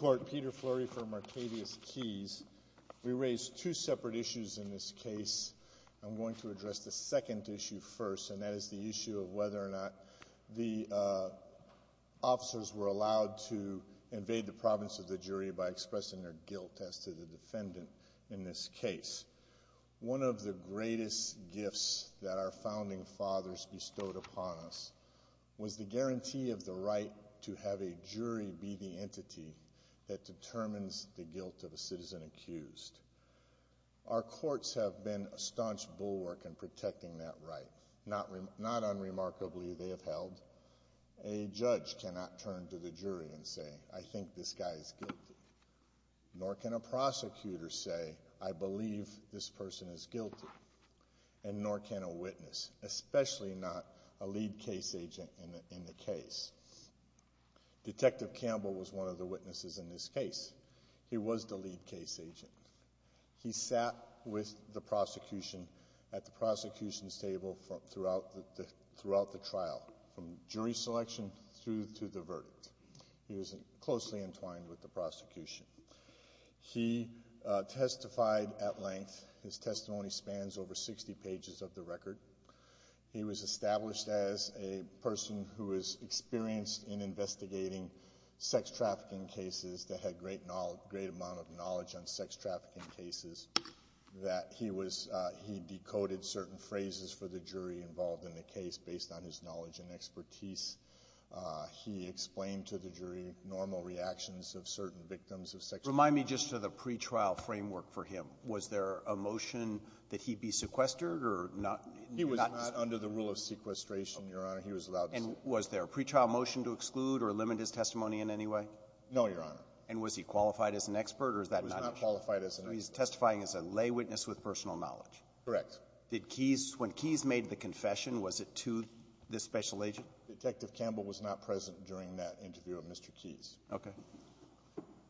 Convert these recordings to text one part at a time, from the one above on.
We raise two separate issues in this case. I'm going to address the second issue first, and that is the issue of whether or not the officers were allowed to invade the province of the jury by expressing their guilt as to the defendant in this case. One of the greatest gifts that our Founding Fathers bestowed upon us was the guarantee of the right to have a jury be the entity that determines the guilt of a citizen accused. Our courts have been a staunch bulwark in protecting that right. Not unremarkably, they have held. A judge cannot turn to the jury and say, I think this guy is guilty. Nor can a prosecutor say, I believe this person is guilty. And nor can a witness, especially not a lead case agent in the case. Detective Campbell was one of the witnesses in this case. He was the lead case agent. He sat with the prosecution at the prosecution's table throughout the trial, from jury selection through to the verdict. He was closely entwined with the prosecution. He testified at length. His testimony spans over 60 pages of the record. He was established as a person who was experienced in investigating sex trafficking cases that had a great amount of knowledge on sex trafficking cases. That he was — he decoded certain phrases for the jury involved in the case based on his knowledge and expertise. He explained to the jury normal reactions of certain victims of sex trafficking. Remind me just of the pretrial framework for him. Was there a motion that he be sequestered or not — He was not under the rule of sequestration, Your Honor. He was allowed to stay. And was there a pretrial motion to exclude or limit his testimony in any way? No, Your Honor. And was he qualified as an expert, or is that not an issue? He was not qualified as an expert. So he's testifying as a lay witness with personal knowledge. Correct. Did Keyes — when Keyes made the confession, was it to this special agent? Detective Campbell was not present during that interview of Mr. Keyes. Okay.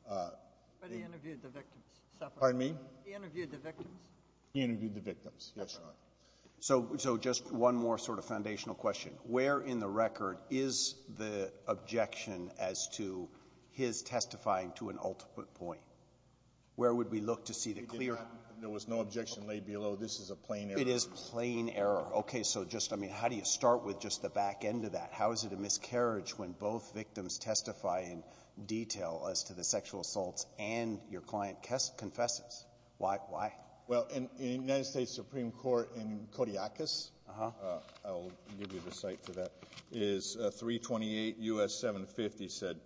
But he interviewed the victims. Pardon me? He interviewed the victims. He interviewed the victims. Yes, Your Honor. So just one more sort of foundational question. Where in the record is the objection as to his testifying to an ultimate point? Where would we look to see the clear — There was no objection laid below. This is a plain error. It is plain error. Okay. So just, I mean, how do you start with just the back end of that? How is it a miscarriage when both victims testify in detail as to the sexual assaults and your client confesses? Why? Why? Well, in the United States Supreme Court in Kodiakus, I'll give you the site for that, is 328 U.S. 750 said,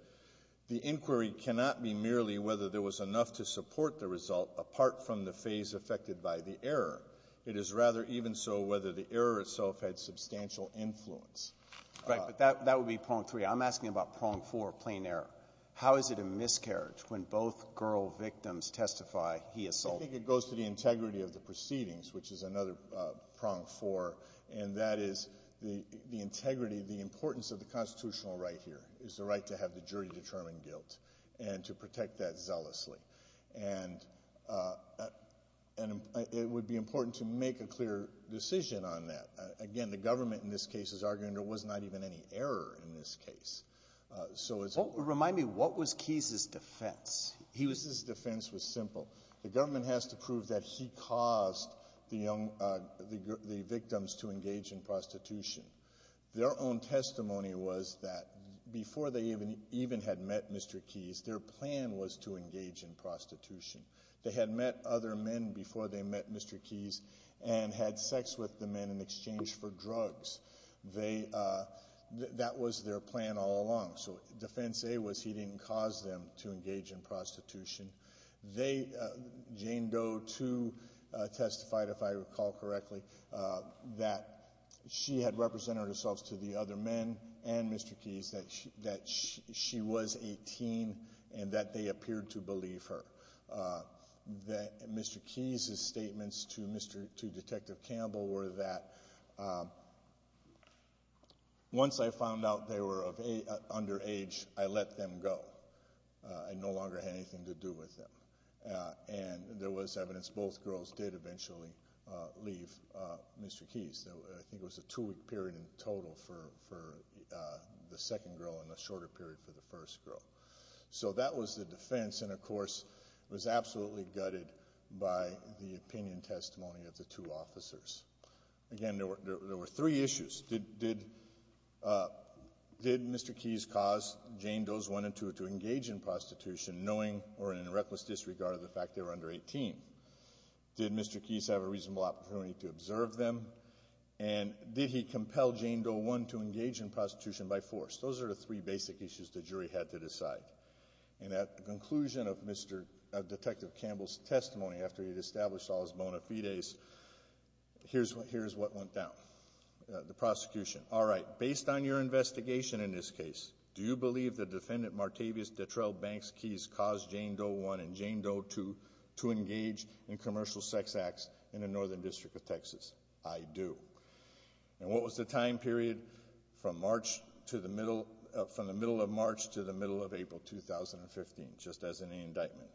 the inquiry cannot be merely whether there was enough to support the result apart from the phase affected by the error. It is rather even so whether the error itself had substantial influence. Right. But that would be prong three. I'm asking about prong four, plain error. How is it a miscarriage when both girl victims testify he assaulted? I think it goes to the integrity of the proceedings, which is another prong four. And that is the integrity, the importance of the constitutional right here is the right to have the jury-determined guilt and to protect that zealously. And it would be important to make a clear decision on that. Again, the government in this case is arguing there was not even any error in this case. So it's — Remind me, what was Keyes' defense? Keyes' defense was simple. The government has to prove that he caused the young — the victims to engage in prostitution. Their own testimony was that before they even had met Mr. Keyes, their plan was to engage in prostitution. They had met other men before they met Mr. Keyes and had sex with the men in exchange for drugs. They — that was their plan all along. So defense A was he didn't cause them to engage in prostitution. They — Jane Doe, too, testified, if I recall correctly, that she had represented herself to the other men and Mr. Keyes, that she was a teen and that they appeared to believe her. That Mr. Keyes' statements to Mr. — to Detective Campbell were that once I found out they were of — underage, I let them go. I no longer had anything to do with them. And there was evidence both girls did eventually leave Mr. Keyes. I think it was a two-week period in total for the second girl and a shorter period for the first girl. So that was the defense. And, of course, it was absolutely gutted by the opinion testimony of the two officers. Again, there were three issues. Did — did — did Mr. Keyes cause Jane Doe's one and two to engage in prostitution, knowing or in a reckless disregard of the fact they were under 18? Did Mr. Keyes have a reasonable opportunity to observe them? And did he compel Jane Doe one to engage in prostitution by force? Those are the three basic issues the jury had to decide. And at the conclusion of Mr. — of Detective Campbell's testimony after he'd established all his bona fides, here's what — here's what went down. The prosecution, all right, based on your investigation in this case, do you believe that Defendant Martavius Detrell Banks Keyes caused Jane Doe one and Jane Doe two to engage in commercial sex acts in the Northern District of Texas? I do. And what was the time period? From March to the middle — from the middle of March to the middle of April 2015, just as an indictment.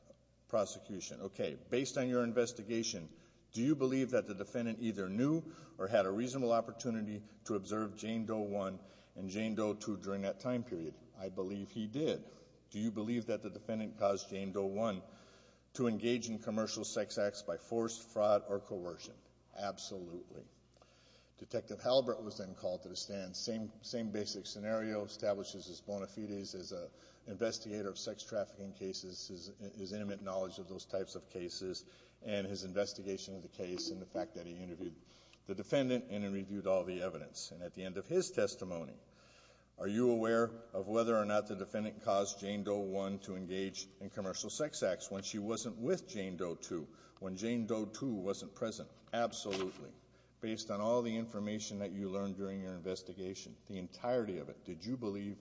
Prosecution, OK, based on your investigation, do you believe that the defendant either knew or had a reasonable opportunity to observe Jane Doe one and Jane Doe two during that time period? I believe he did. Do you believe that the defendant caused Jane Doe one to engage in commercial sex acts by force, fraud, or coercion? Absolutely. Detective Halliburton was then called to the stand. Same — same basic scenario, establishes his bona fides as an investigator of sex trafficking cases, his intimate knowledge of those types of cases, and his investigation of the case, and the fact that he interviewed the defendant and then reviewed all the evidence. And at the end of his testimony, are you aware of whether or not the defendant caused Jane Doe one to engage in commercial sex acts when she wasn't with Jane Doe two, when Jane Doe two wasn't present? Absolutely. Based on all the information that you learned during your investigation, the entirety of it, did you believe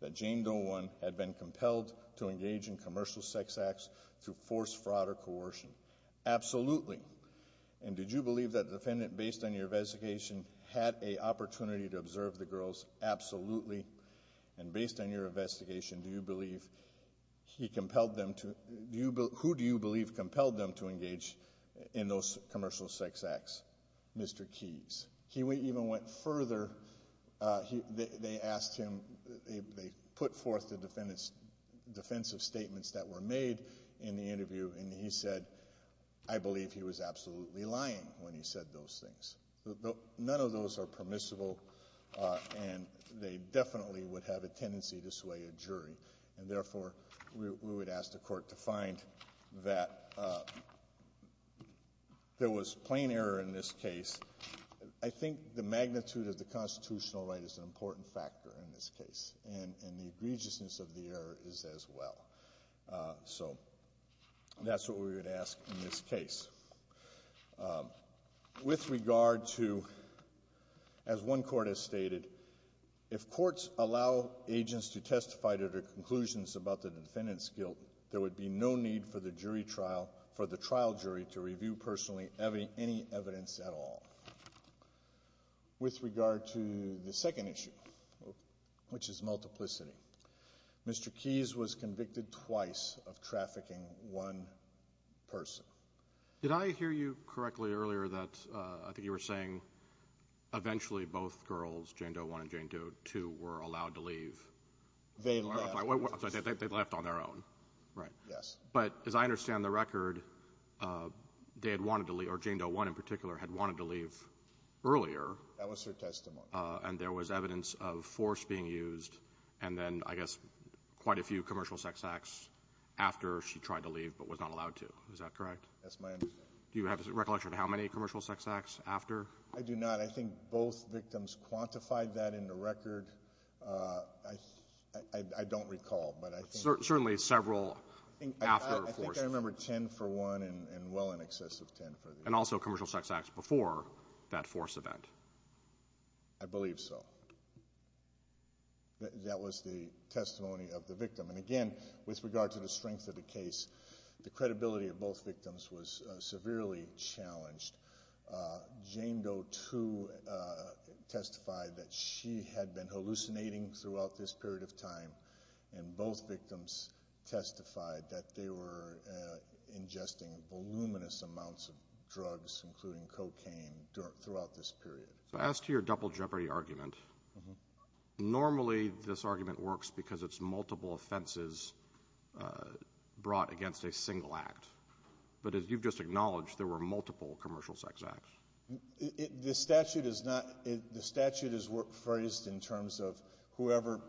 that Jane Doe one had been compelled to engage in commercial sex acts through force, fraud, or coercion? Absolutely. And did you believe that the defendant, based on your investigation, had a opportunity to observe the girls? Absolutely. And based on your investigation, do you believe he compelled them to — do you — who do you believe compelled them to engage in those commercial sex acts? Mr. Keys. He even went further. They asked him — they put forth the defendant's defensive statements that were made in the interview, and he said, I believe he was absolutely lying when he said those things. None of those are permissible, and they definitely would have a tendency to sway a jury. And therefore, we would ask the Court to find that there was plain error in this case. I think the magnitude of the constitutional right is an important factor in this case, and the egregiousness of the error is as well. So that's what we would ask in this case. With regard to — as one court has stated, if courts allow agents to testify to their conclusions about the defendant's guilt, there would be no need for the jury trial — for the trial jury to review personally any evidence at all. With regard to the second issue, which is multiplicity, Mr. Keys was convicted twice of trafficking one person. Did I hear you correctly earlier that — I think you were saying eventually both girls, Jane Doe 1 and Jane Doe 2, were allowed to leave? They left. They left on their own, right? Yes. But as I understand the record, they had wanted to leave — or Jane Doe 1 in particular had wanted to leave earlier. That was her testimony. And there was evidence of force being used, and then, I guess, quite a few commercial sex acts after she tried to leave but was not allowed to. Is that correct? That's my understanding. Do you have a recollection of how many commercial sex acts after? I do not. I think both victims quantified that in the record. I don't recall, but I think — Certainly several after force. I think I remember 10 for one and well in excess of 10 for the other. And also commercial sex acts before that force event. I believe so. That was the testimony of the victim. And again, with regard to the strength of the case, the credibility of both victims was severely challenged. Jane Doe 2 testified that she had been hallucinating throughout this period of time, and both victims testified that they were ingesting voluminous amounts of drugs, including cocaine, throughout this period. So as to your double jeopardy argument, normally this argument works because it's multiple offenses brought against a single act. But as you've just acknowledged, there were multiple commercial sex acts. The statute is not — the statute is phrased in terms of whoever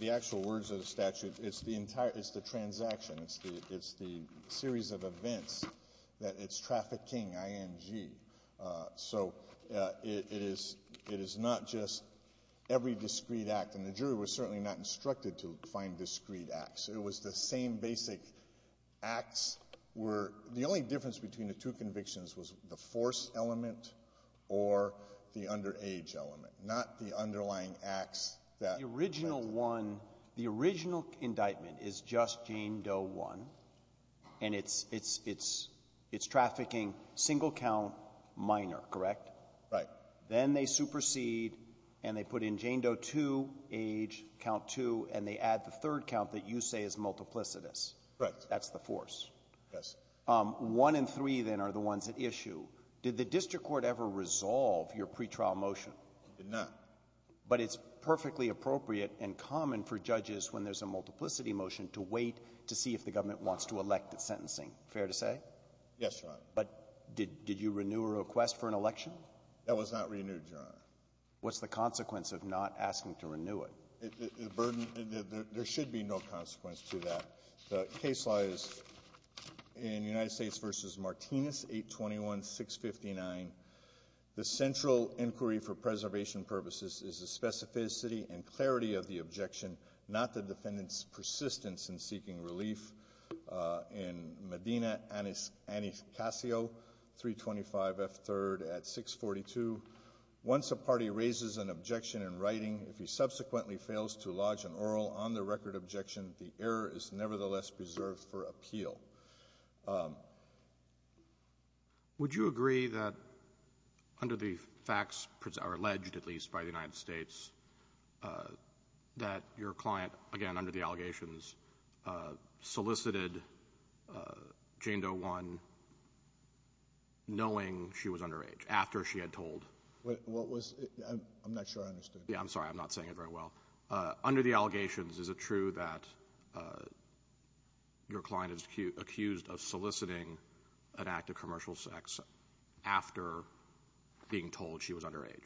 the actual words of the statute. It's the entire — it's the transaction. It's the — it's the series of events that it's trafficking, I-N-G. So it is — it is not just every discreet act. And the jury was certainly not instructed to find discreet acts. It was the same basic acts were — the only difference between the two convictions was the force element or the underage element, not the underlying acts that — Alito, the original one — the original indictment is just Jane Doe 1, and it's — it's trafficking single count minor, correct? Right. Then they supersede, and they put in Jane Doe 2, age, count 2, and they add the third count that you say is multiplicitous. Right. That's the force. Yes. One and three, then, are the ones at issue. Did the district court ever resolve your pretrial motion? It did not. But it's perfectly appropriate and common for judges, when there's a multiplicity motion, to wait to see if the government wants to elect its sentencing. Fair to say? Yes, Your Honor. But did — did you renew a request for an election? That was not renewed, Your Honor. What's the consequence of not asking to renew it? The burden — there should be no consequence to that. The case law is in United States v. Martinez, 821-659. The central inquiry for preservation purposes is the specificity and clarity of the objection, not the defendant's persistence in seeking relief. In Medina, Anastacio, 325 F. 3rd at 642, once a party raises an objection in writing, if he subsequently fails to lodge an oral on-the-record objection, the error is nevertheless preserved for appeal. Would you agree that, under the facts — or alleged, at least, by the United States — that your client, again, under the allegations, solicited Jane Doe One knowing she was underage, after she had told — What was — I'm not sure I understood. Yeah, I'm sorry. I'm not saying it very well. Under the allegations, is it true that your client is accused of soliciting an act of commercial sex after being told she was underage?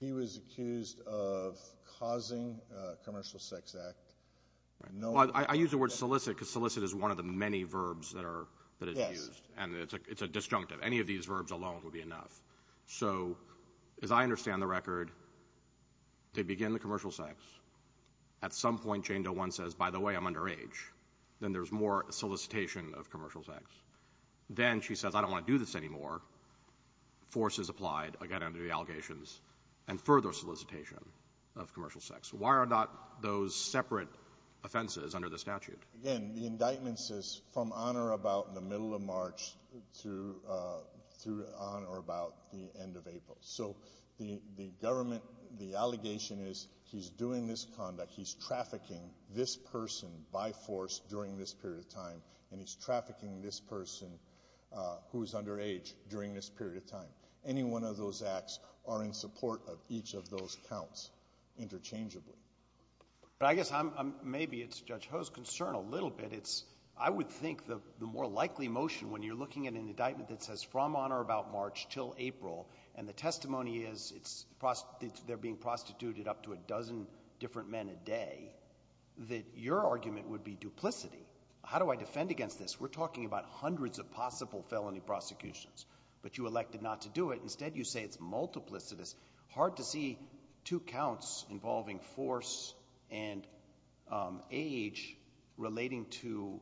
He was accused of causing a commercial sex act knowing — Well, I use the word solicit because solicit is one of the many verbs that are — that is used. And it's a disjunctive. Any of these verbs alone would be enough. So, as I understand the record, they begin the commercial sex. At some point, Jane Doe One says, by the way, I'm underage. Then there's more solicitation of commercial sex. Then she says, I don't want to do this anymore. Force is applied, again, under the allegations, and further solicitation of commercial sex. Why are not those separate offenses under the statute? Again, the indictment says from on or about in the middle of March through on or about the end of April. So the government — the allegation is he's doing this conduct, he's trafficking this person by force during this period of time, and he's trafficking this person who is underage during this period of time. Any one of those acts are in support of each of those counts interchangeably. But I guess I'm — maybe it's Judge Ho's concern a little bit. It's — I would think the more likely motion, when you're looking at an indictment that says from on or about March till April, and the testimony is it's — they're being prostituted up to a dozen different men a day, that your argument would be duplicity. How do I defend against this? We're talking about hundreds of possible felony prosecutions. But you elected not to do it. Instead, you say it's multiplicitous. Hard to see two counts involving force and age relating to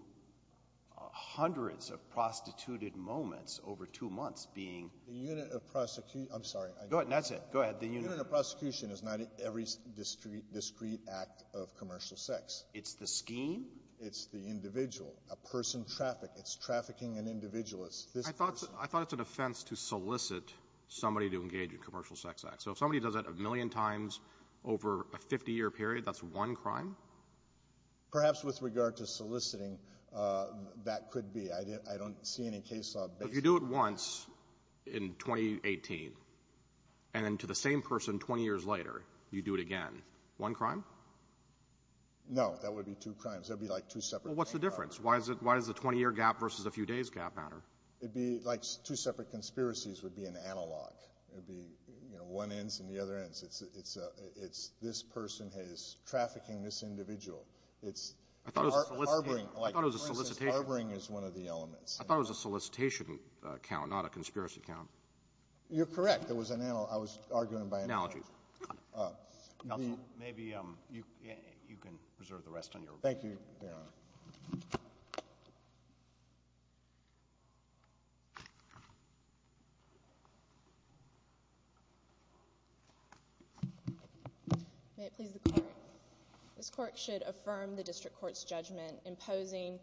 hundreds of prostituted moments over two months being — The unit of prosecution — I'm sorry. Go ahead. That's it. Go ahead. The unit of prosecution is not every discrete act of commercial sex. It's the scheme. It's the individual. A person trafficked. It's trafficking an individual. It's this person. I thought it's an offense to solicit somebody to engage in a commercial sex act. So if somebody does that a million times over a 50-year period, that's one crime? Perhaps with regard to soliciting, that could be. I don't see any case law based on that. But if you do it once in 2018, and then to the same person 20 years later, you do it again, one crime? No. That would be two crimes. That would be like two separate — Well, what's the difference? Why is it — why does the 20-year gap versus a few days gap matter? It'd be like two separate conspiracies would be an analog. It would be, you know, one ends and the other ends. It's — it's — it's this person is trafficking this individual. It's harboring — I thought it was a solicitation. Harboring is one of the elements. I thought it was a solicitation count, not a conspiracy count. It was an analog. I was arguing by analogy. Analogy. Counsel, maybe you — you can reserve the rest on your report. Thank you, Your Honor. May it please the Court, this Court should affirm the district court's judgment imposing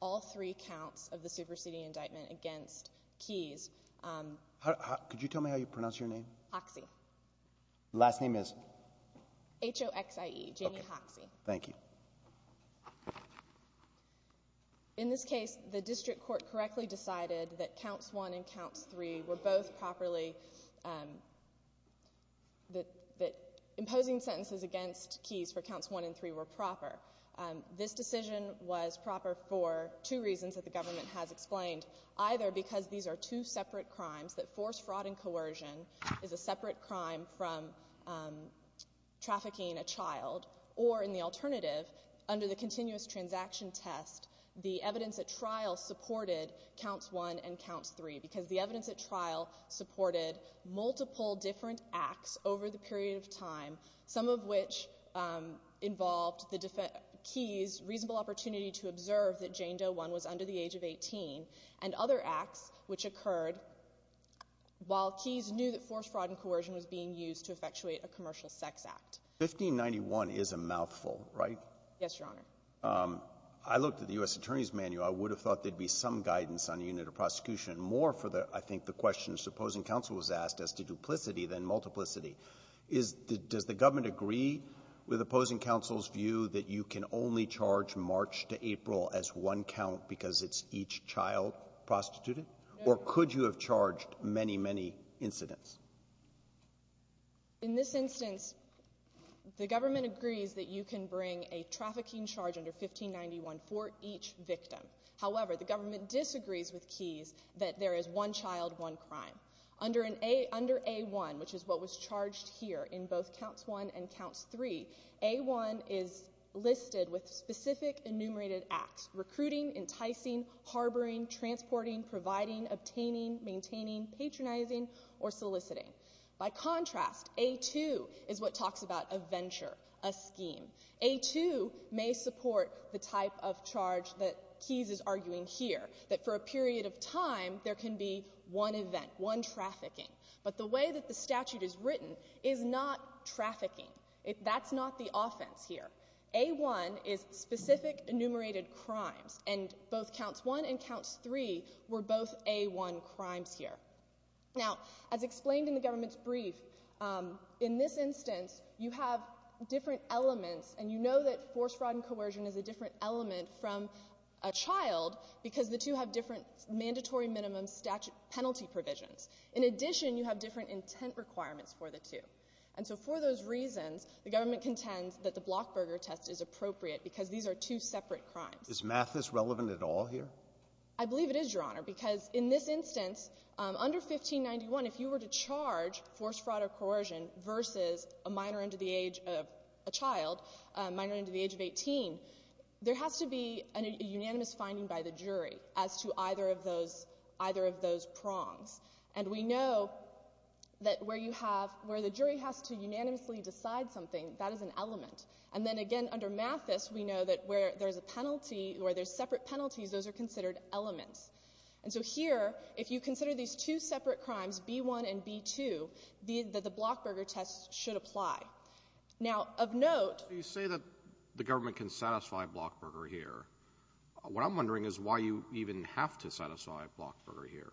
all three counts of the superseding indictment against Keyes. Could you tell me how you pronounce your name? Hoxie. Last name is? H-O-X-I-E, Jamie Hoxie. Thank you. In this case, the district court correctly decided that counts one and counts three were both properly — that — that imposing sentences against Keyes for counts one and three were proper. This decision was proper for two reasons that the government has explained. Either because these are two separate crimes, that forced fraud and coercion is a separate crime from trafficking a child. Or, in the alternative, under the continuous transaction test, the evidence at trial supported counts one and counts three, because the evidence at trial supported multiple different acts over the period of time, some of which involved the — Keyes' reasonable opportunity to observe that Jane Doe One was under the age of 18, and other acts which occurred while Keyes knew that forced fraud and coercion was being used to effectuate a commercial sex act. 1591 is a mouthful, right? Yes, Your Honor. I looked at the U.S. Attorney's manual. I would have thought there'd be some guidance on a unit of prosecution, more for the — I think the question to opposing counsel was asked as to duplicity than multiplicity. Is — does the government agree with opposing counsel's view that you can only charge March to April as one count because it's each child prostituted? Or could you have charged many, many incidents? In this instance, the government agrees that you can bring a trafficking charge under 1591 for each victim. However, the government disagrees with Keyes that there is one child, one crime. Under an — under A1, which is what was charged here in both counts one and counts three, A1 is listed with specific enumerated acts — recruiting, enticing, harboring, transporting, providing, obtaining, maintaining, patronizing, or soliciting. By contrast, A2 is what talks about a venture, a scheme. A2 may support the type of charge that Keyes is arguing here, that for a period of time, there can be one event, one trafficking. But the way that the statute is written is not trafficking. That's not the offense here. A1 is specific enumerated crimes. And both counts one and counts three were both A1 crimes here. Now, as explained in the government's brief, in this instance, you have different elements, and you know that force, fraud, and coercion is a different element from a child because the two have different mandatory minimum statute penalty provisions. In addition, you have different intent requirements for the two. And so for those reasons, the government contends that the Blockberger test is appropriate because these are two separate crimes. Is math this relevant at all here? I believe it is, Your Honor, because in this instance, under 1591, if you were to charge force, fraud, or coercion versus a minor under the age of a child, a minor under the age of 18, there has to be a unanimous finding by the jury as to either of those — either of those prongs. And we know that where you have — where the jury has to unanimously decide something, that is an element. And then again, under math this, we know that where there's a penalty, where there's separate penalties, those are considered elements. And so here, if you consider these two separate crimes, B1 and B2, the Blockberger test should apply. Now, of note — You say that the government can satisfy Blockberger here. What I'm wondering is why you even have to satisfy Blockberger here.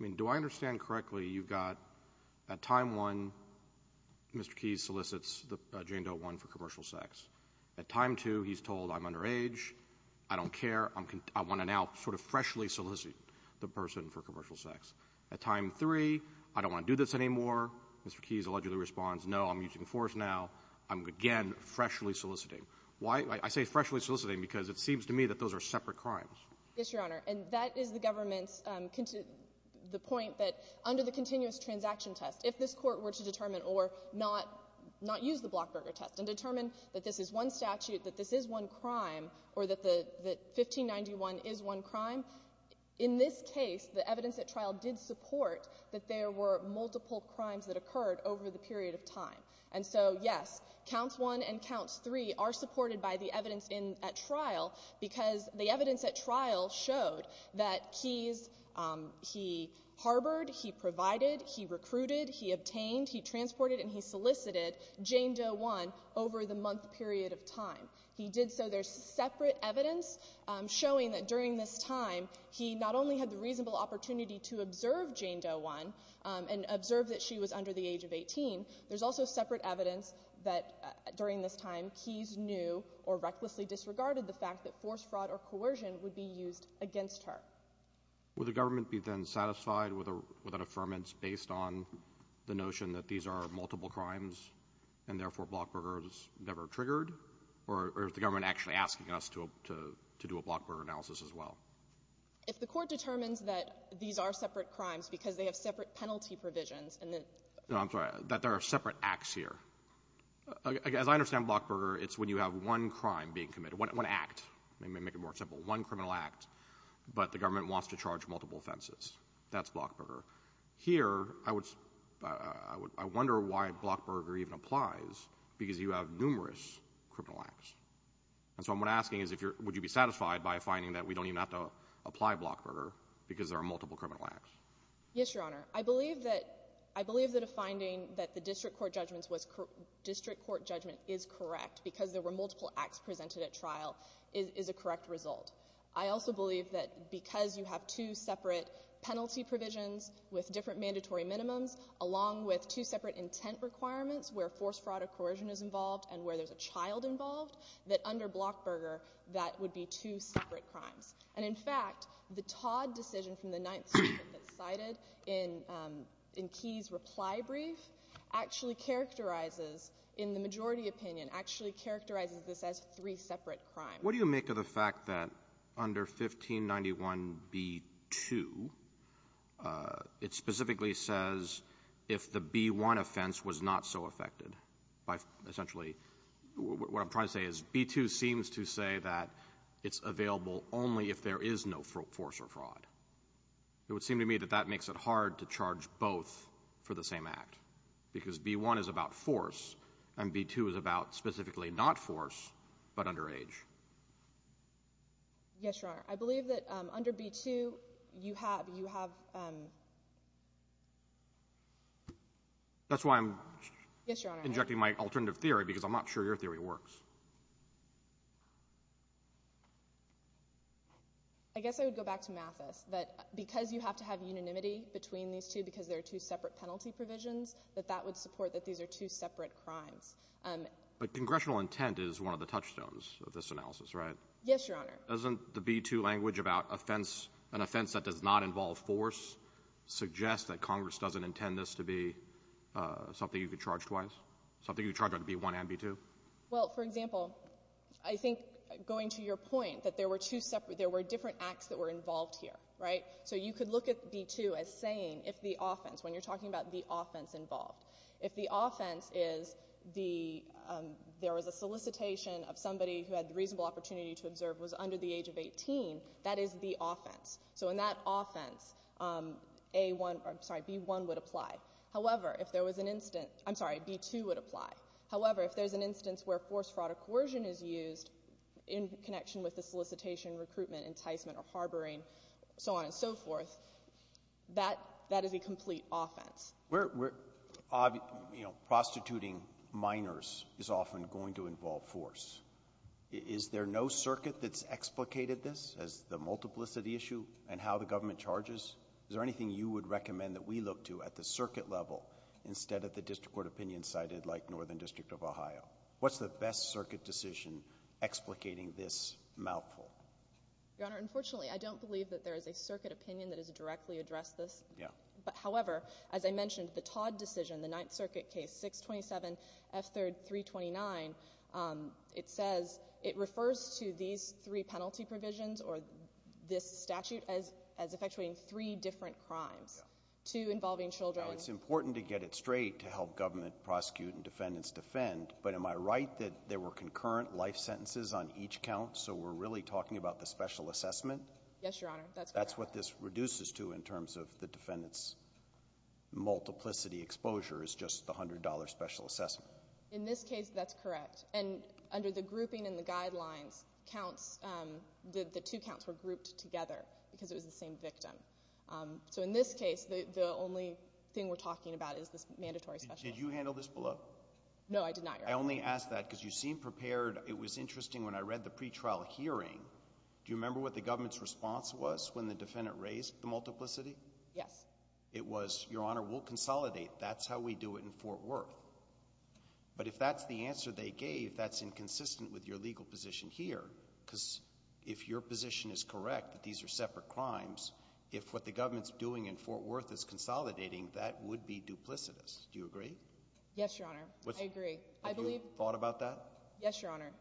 I mean, do I understand correctly you've got — at time 1, Mr. Keyes solicits Jane Doe 1 for commercial sex. At time 2, he's told, I'm underage, I don't care, I want to now sort of freshly solicit the person for commercial sex. At time 3, I don't want to do this anymore, Mr. Keyes allegedly responds, no, I'm using force now, I'm again freshly soliciting. Why — I say freshly soliciting because it seems to me that those are separate crimes. Yes, Your Honor. And that is the government's — the point that under the continuous transaction test, if this Court were to determine or not use the Blockberger test and determine that this is one statute, that this is one crime, or that the — that 1591 is one crime, in this case, the evidence at trial did support that there were multiple crimes that occurred over the period of time. And so, yes, counts 1 and counts 3 are supported by the evidence in — at trial because the evidence at trial showed that Keyes, he harbored, he provided, he recruited, he obtained, he transported, and he solicited Jane Doe 1 over the month period of time. He did so. There's separate evidence showing that during this time, he not only had the reasonable opportunity to observe Jane Doe 1 and observe that she was under the age of 18, there's also separate evidence that, during this time, Keyes knew or recklessly disregarded the fact that force, fraud, or coercion would be used against her. Would the government be then satisfied with an affirmance based on the notion that these are multiple crimes and, therefore, Blockberger is never triggered? Or is the government actually asking us to do a Blockberger analysis as well? If the Court determines that these are separate crimes because they have separate penalty provisions, and then — No, I'm sorry. That there are separate acts here. As I understand Blockberger, it's when you have one crime being committed, one act. Let me make it more simple. One criminal act, but the government wants to charge multiple offenses. That's Blockberger. Here, I would — I wonder why Blockberger even applies because you have numerous criminal acts. And so what I'm asking is if you're — would you be satisfied by a finding that we don't even have to apply Blockberger because there are multiple criminal acts? Yes, Your Honor. I believe that — I believe that a finding that the district court judgment was — district court judgment is correct because there were multiple acts presented at trial is a correct result. I also believe that because you have two separate penalty provisions with different mandatory minimums, along with two separate intent requirements where force, fraud, or coercion is involved and where there's a child involved, that under Blockberger, that would be two separate crimes. And, in fact, the Todd decision from the Ninth Circuit that's cited in — in Key's reply brief actually characterizes, in the majority opinion, actually characterizes this as three separate crimes. What do you make of the fact that under 1591b2, it specifically says if the b1 offense was not so affected by essentially — what I'm trying to say is b2 seems to say that it's available only if there is no force or fraud. It would seem to me that that makes it hard to charge both for the same act because b1 is about force and b2 is about specifically not force but underage. Yes, Your Honor. I believe that under b2, you have — you have — That's why I'm — Yes, Your Honor. — injecting my alternative theory because I'm not sure your theory works. I guess I would go back to Mathis, that because you have to have unanimity between these two because there are two separate penalty provisions, that that would support that these are two separate crimes. But congressional intent is one of the touchstones of this analysis, right? Yes, Your Honor. Doesn't the b2 language about offense — an offense that does not involve force suggest that Congress doesn't intend this to be something you could charge twice, something you could charge under b1 and b2? Well, for example, I think going to your point that there were two separate — there were different acts that were involved here, right? So you could look at b2 as saying if the offense — when you're talking about the offense involved. If the offense is the — there was a solicitation of somebody who had the reasonable opportunity to observe was under the age of 18, that is the offense. So in that offense, a1 — I'm sorry, b1 would apply. However, if there was an incident — I'm sorry, b2 would apply. However, if there's an instance where force, fraud, or coercion is used in connection with the solicitation, recruitment, enticement, or harboring, so on and so forth, that — that is a complete offense. We're — you know, prostituting minors is often going to involve force. Is there no circuit that's explicated this as the multiplicity issue and how the government charges? Is there anything you would recommend that we look to at the circuit level instead of the district court opinion cited like Northern District of Ohio? What's the best circuit decision explicating this mouthful? Your Honor, unfortunately, I don't believe that there is a circuit opinion that has directly addressed this. Yeah. But, however, as I mentioned, the Todd decision, the Ninth Circuit case 627F3329, it says — it refers to these three penalty provisions or this statute as effectuating three different crimes. Yeah. Two involving children. Now, it's important to get it straight to help government prosecute and defendants defend, but am I right that there were concurrent life sentences on each count, so we're really talking about the special assessment? Yes, Your Honor. That's correct. That's what this reduces to in terms of the defendants' multiplicity exposure is just the $100 special assessment. In this case, that's correct. And under the grouping and the guidelines, counts — the two counts were grouped together because it was the same victim. So in this case, the only thing we're talking about is this mandatory special assessment. Did you handle this below? No, I did not, Your Honor. I only ask that because you seem prepared. It was interesting when I read the pretrial hearing. Do you remember what the government's response was when the defendant raised the multiplicity? Yes. It was, Your Honor, we'll consolidate. That's how we do it in Fort Worth. But if that's the answer they gave, that's inconsistent with your legal position here because if your position is correct that these are separate crimes, if what the government's doing in Fort Worth is consolidating, that would be duplicitous. Do you agree? Yes, Your Honor. I agree. Have you thought about that? Yes, Your Honor.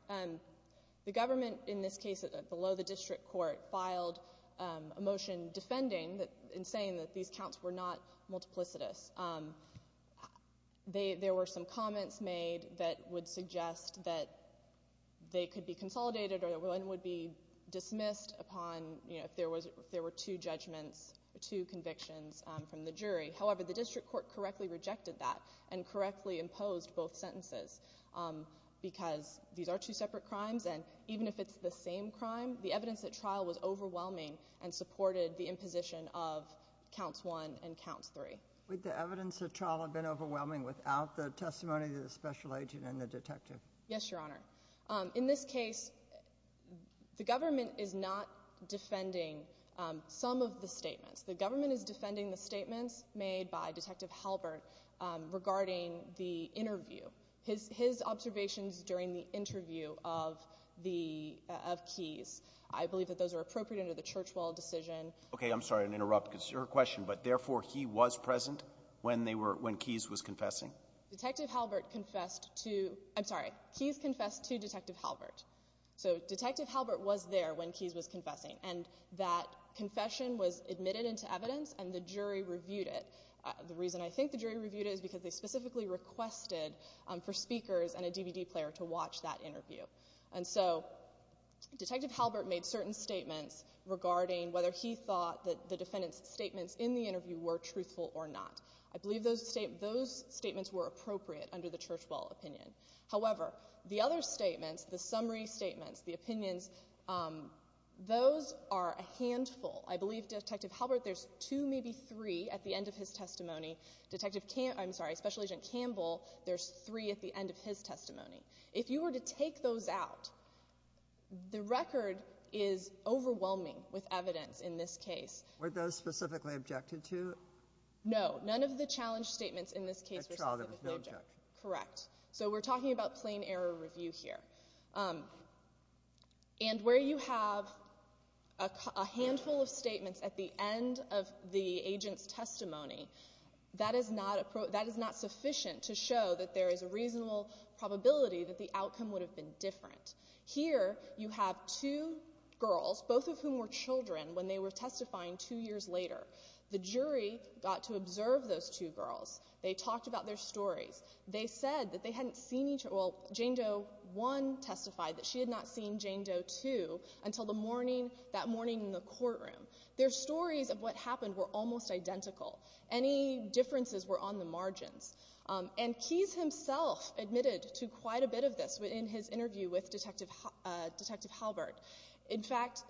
The government in this case, below the district court, filed a motion defending and saying that these counts were not multiplicitous. There were some comments made that would suggest that they could be consolidated or that one would be dismissed upon, you know, if there were two judgments, two convictions from the jury. However, the district court correctly rejected that and correctly imposed both sentences because these are two separate crimes and even if it's the same crime, the evidence at trial was overwhelming and supported the imposition of counts one and counts three. Would the evidence at trial have been overwhelming without the testimony of the special agent and the detective? Yes, Your Honor. In this case, the government is not defending some of the statements. The government is defending the statements made by Detective Halbert regarding the interview. His observations during the interview of Keyes, I believe that those are appropriate under the Churchwell decision. Okay, I'm sorry to interrupt because it's your question, but therefore he was present when they were, when Keyes was confessing? Detective Halbert confessed to, I'm sorry, Keyes confessed to Detective Halbert. So Detective Halbert was there when Keyes was confessing and that confession was admitted into evidence and the jury reviewed it. The reason I think the jury reviewed it is because they specifically requested for speakers and a DVD player to watch that interview. And so Detective Halbert made certain statements regarding whether he thought that the defendant's statements in the interview were truthful or not. I believe those statements were appropriate under the Churchwell opinion. However, the other statements, the summary statements, the opinions, those are a handful. I believe Detective Halbert, there's two, maybe three at the end of his testimony. Detective, I'm sorry, Special Agent Campbell, there's three at the end of his testimony. If you were to take those out, the record is overwhelming with evidence in this case. Were those specifically objected to? No, none of the challenge statements in this case were specifically objected to. Correct. So we're talking about plain error review here. And where you have a handful of statements at the end of the agent's testimony, that is not sufficient to show that there is a reasonable probability that the outcome would have been different. Here, you have two girls, both of whom were children, when they were testifying two years later. The jury got to observe those two girls. They talked about their stories. They said that they hadn't seen each other, well, Jane Doe 1 testified that she had not seen Jane Doe 2 until the morning, that morning in the courtroom. Their stories of what happened were almost identical. Any differences were on the margins. And Keyes himself admitted to quite a bit of this in his interview with Detective Halbert. In fact,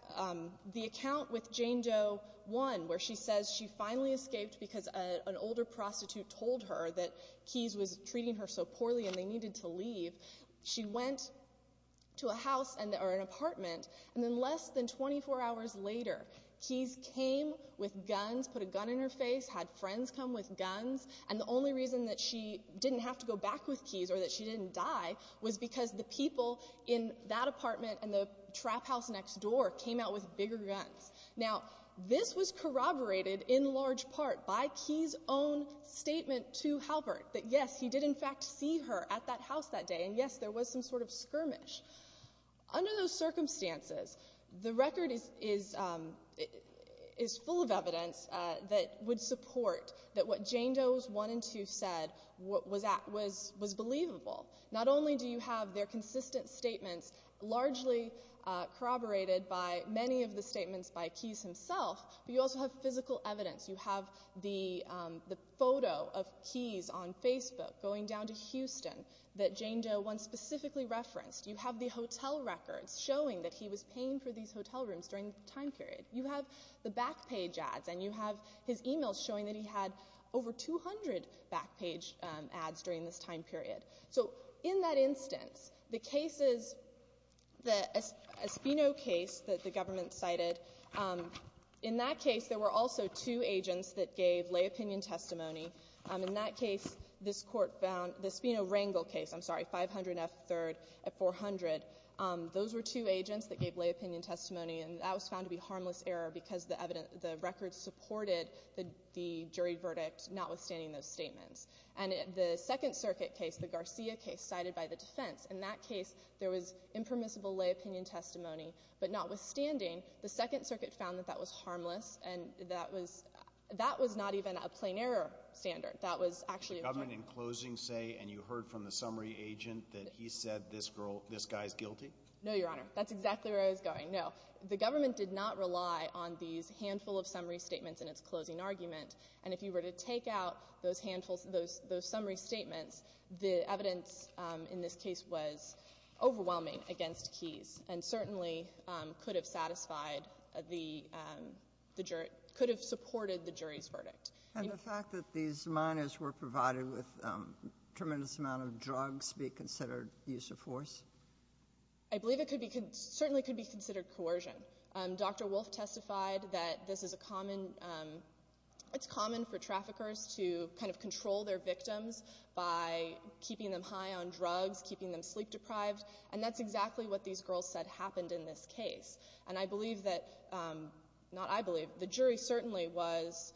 the account with Jane Doe 1, where she says she finally escaped because an older prostitute told her that Keyes was treating her so poorly and they needed to leave, she went to a house or an apartment. And then less than 24 hours later, Keyes came with guns, put a gun in her face, had friends come with guns, and the only reason that she didn't have to go back with Keyes or that she didn't die was because the people in that apartment and the trap house next door came out with bigger guns. Now, this was corroborated in large part by Keyes' own statement to Halbert that, yes, he did in fact see her at that house that day. And, yes, there was some sort of skirmish. Under those circumstances, the record is full of evidence that would support that what Jane Doe's 1 and 2 said was believable. Not only do you have their consistent statements largely corroborated by many of the statements by Keyes himself, but you also have physical evidence. You have the photo of Keyes on Facebook going down to Houston that Jane Doe 1 specifically referenced. You have the hotel records showing that he was paying for these hotel rooms during the time period. You have the back page ads, and you have his e-mails showing that he had over 200 back page ads during this time period. So in that instance, the cases, the Espino case that the government cited, in that case there were also two agents that gave lay opinion testimony. In that case, this Court found, the Espino-Rangel case, I'm sorry, 500 F. 3rd at 400. Those were two agents that gave lay opinion testimony, and that was found to be harmless error because the record supported the jury verdict, notwithstanding those statements. And the Second Circuit case, the Garcia case cited by the defense, in that case there was impermissible lay opinion testimony, but notwithstanding, the Second Circuit found that that was harmless, and that was not even a plain error standard. That was actually a failure. The government in closing say, and you heard from the summary agent, that he said this guy's guilty? No, Your Honor. That's exactly where I was going. No. The government did not rely on these handful of summary statements in its closing argument, and if you were to take out those handfuls, those summary statements, the evidence in this case was overwhelming against Keyes and certainly could have satisfied the jury, could have supported the jury's verdict. And the fact that these minors were provided with a tremendous amount of drugs be considered use of force? I believe it could be, certainly could be considered coercion. Dr. Wolfe testified that this is a common, it's common for traffickers to kind of control their victims by keeping them high on drugs, keeping them sleep deprived, and that's exactly what these girls said happened in this case. And I believe that, not I believe, the jury certainly was,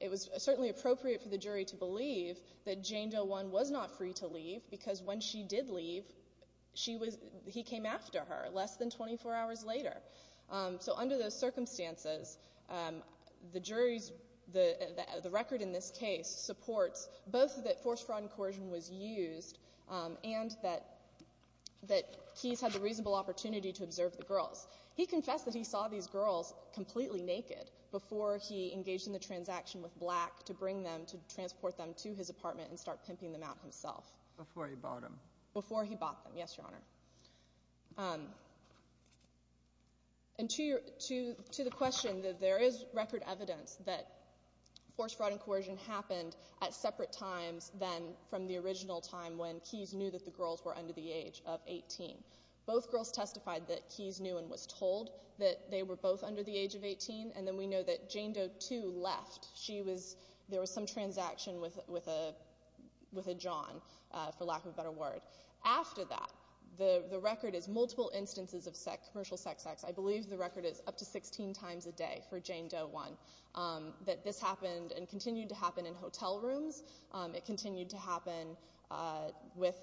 it was certainly appropriate for the jury to believe that Jane Doe One was not free to leave because when she did leave, she was, he came after her less than 24 hours later. So under those circumstances, the jury's, the record in this case supports both that force, fraud, and coercion was used and that Keyes had the reasonable opportunity to observe the girls. He confessed that he saw these girls completely naked before he engaged in the transaction with Black to bring them, to transport them to his apartment and start pimping them out himself. Before he bought them. Before he bought them, yes, Your Honor. And to your, to the question that there is record evidence that force, fraud, and coercion happened at separate times than from the original time when Keyes knew that the girls were under the age of 18. Both girls testified that Keyes knew and was told that they were both under the age of 18 and then we know that Jane Doe Two left. She was, there was some transaction with a, with a John. For lack of a better word. After that, the, the record is multiple instances of sex, commercial sex acts. I believe the record is up to 16 times a day for Jane Doe One. That this happened and continued to happen in hotel rooms. It continued to happen with,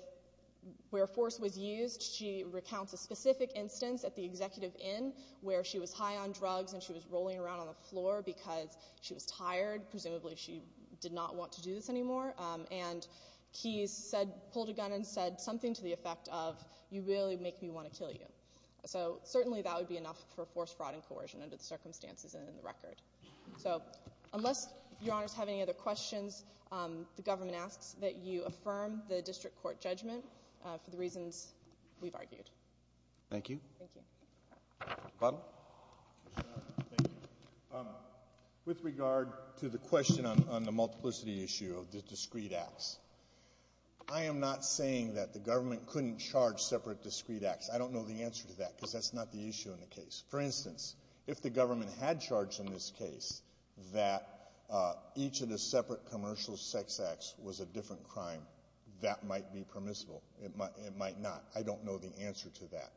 where force was used. She recounts a specific instance at the Executive Inn where she was high on drugs and she was rolling around on the floor because she was tired. Presumably she did not want to do this anymore. And Keyes said, pulled a gun and said something to the effect of you really make me want to kill you. So certainly that would be enough for force, fraud, and coercion under the circumstances and in the record. So unless Your Honors have any other questions, the government asks that you affirm the district court judgment for the reasons we've argued. Thank you. Thank you. Butler. Thank you. With regard to the question on the multiplicity issue of the discreet acts, I am not saying that the government couldn't charge separate discreet acts. I don't know the answer to that because that's not the issue in the case. For instance, if the government had charged in this case that each of the separate commercial sex acts was a different crime, that might be permissible. It might not. I don't know the answer to that.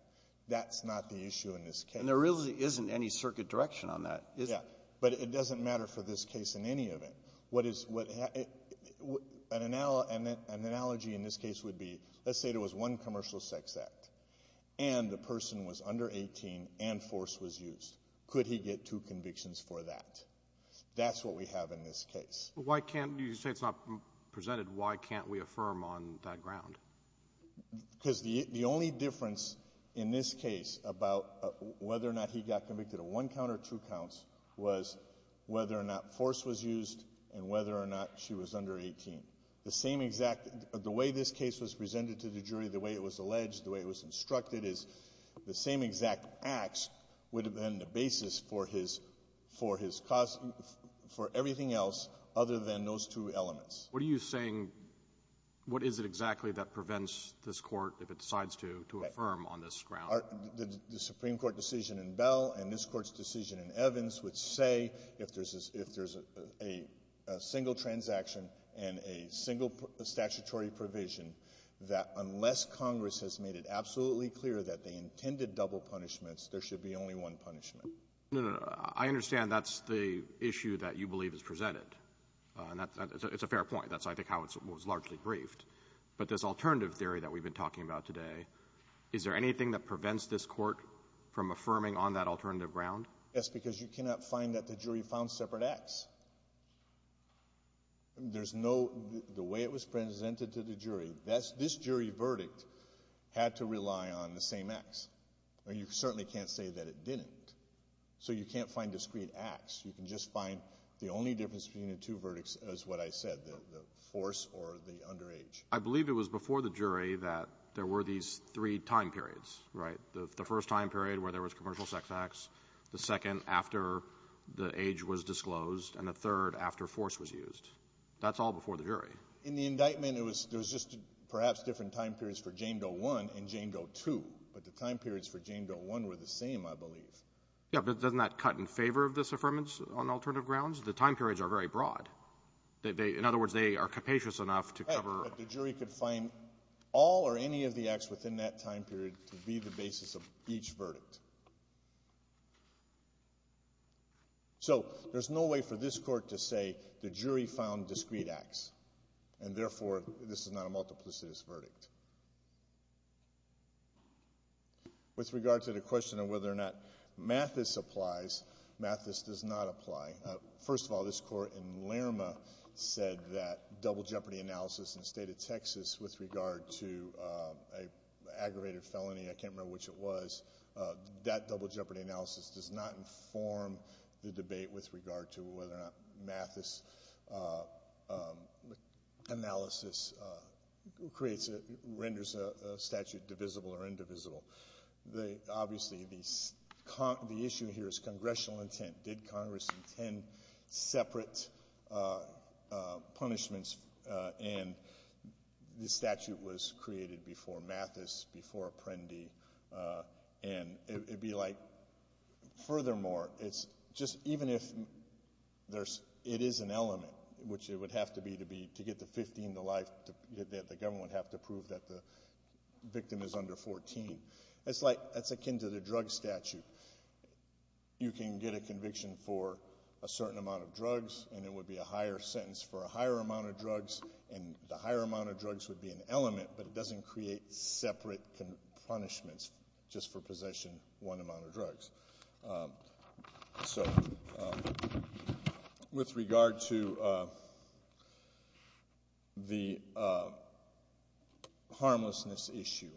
That's not the issue in this case. And there really isn't any circuit direction on that. Yeah. But it doesn't matter for this case in any event. What is an analogy in this case would be, let's say there was one commercial sex act and the person was under 18 and force was used. Could he get two convictions for that? That's what we have in this case. Why can't you say it's not presented? Why can't we affirm on that ground? Because the only difference in this case about whether or not he got convicted of one count or two counts was whether or not force was used and whether or not she was under 18. The same exact — the way this case was presented to the jury, the way it was alleged, the way it was instructed is the same exact acts would have been the basis for his cause — for everything else other than those two elements. What are you saying? What is it exactly that prevents this Court, if it decides to, to affirm on this ground? The Supreme Court decision in Bell and this Court's decision in Evans would say if there's a — if there's a single transaction and a single statutory provision, that unless Congress has made it absolutely clear that they intended double punishments, there should be only one punishment. No, no, no. I understand that's the issue that you believe is presented. And that's — it's a fair point. That's, I think, how it was largely briefed. But this alternative theory that we've been talking about today, is there anything that prevents this Court from affirming on that alternative ground? Yes, because you cannot find that the jury found separate acts. There's no — the way it was presented to the jury, this jury verdict had to rely on the same acts. You certainly can't say that it didn't. So you can't find discrete acts. You can just find the only difference between the two verdicts is what I said, the force or the underage. I believe it was before the jury that there were these three time periods, right? The first time period where there was commercial sex acts, the second after the age was disclosed, and the third after force was used. That's all before the jury. In the indictment, it was — there was just perhaps different time periods for Jane Doe 1 and Jane Doe 2. But the time periods for Jane Doe 1 were the same, I believe. Yeah. But doesn't that cut in favor of this affirmance on alternative grounds? The time periods are very broad. They — in other words, they are capacious enough to cover — But the jury could find all or any of the acts within that time period to be the basis of each verdict. So there's no way for this Court to say the jury found discrete acts, and therefore, this is not a multiplicitous verdict. With regard to the question of whether or not Mathis applies, Mathis does not apply. First of all, this Court in Lerma said that double jeopardy analysis in the state of Texas with regard to an aggravated felony — I can't remember which it was — that double jeopardy analysis does not inform the debate with regard to whether or not Mathis analysis creates — renders a statute divisible or indivisible. Obviously, the issue here is congressional intent. Did Congress intend separate punishments? And the statute was created before Mathis, before Apprendi. And it would be like — furthermore, it's just — even if there's — it is an element, which it would have to be to be — to get the 15 to life, that the government would have to prove that the victim is under 14. It's like — that's akin to the drug statute. You can get a conviction for a certain amount of drugs, and it would be a higher sentence for a higher amount of drugs, and the higher amount of drugs would be an element, but it doesn't create separate punishments just for possession one amount of drugs. So, with regard to the harmlessness issue,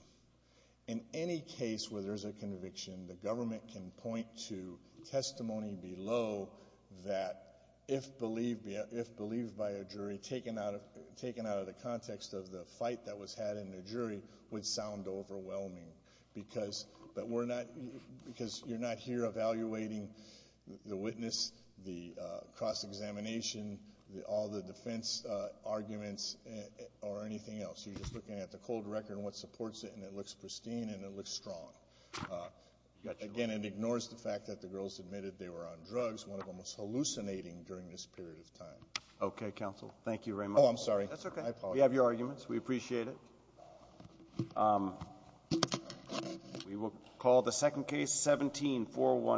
in any case where there's a conviction, the government can point to testimony below that, if believed by a jury, taken out of the context of the fight that was had in the jury, would sound overwhelming, because — I'm not here evaluating the witness, the cross-examination, all the defense arguments, or anything else. You're just looking at the cold record and what supports it, and it looks pristine and it looks strong. Again, it ignores the fact that the girls admitted they were on drugs. One of them was hallucinating during this period of time. Okay, counsel. Thank you very much. Oh, I'm sorry. That's okay. We have your arguments. We appreciate it. We will call the second case, 17-412.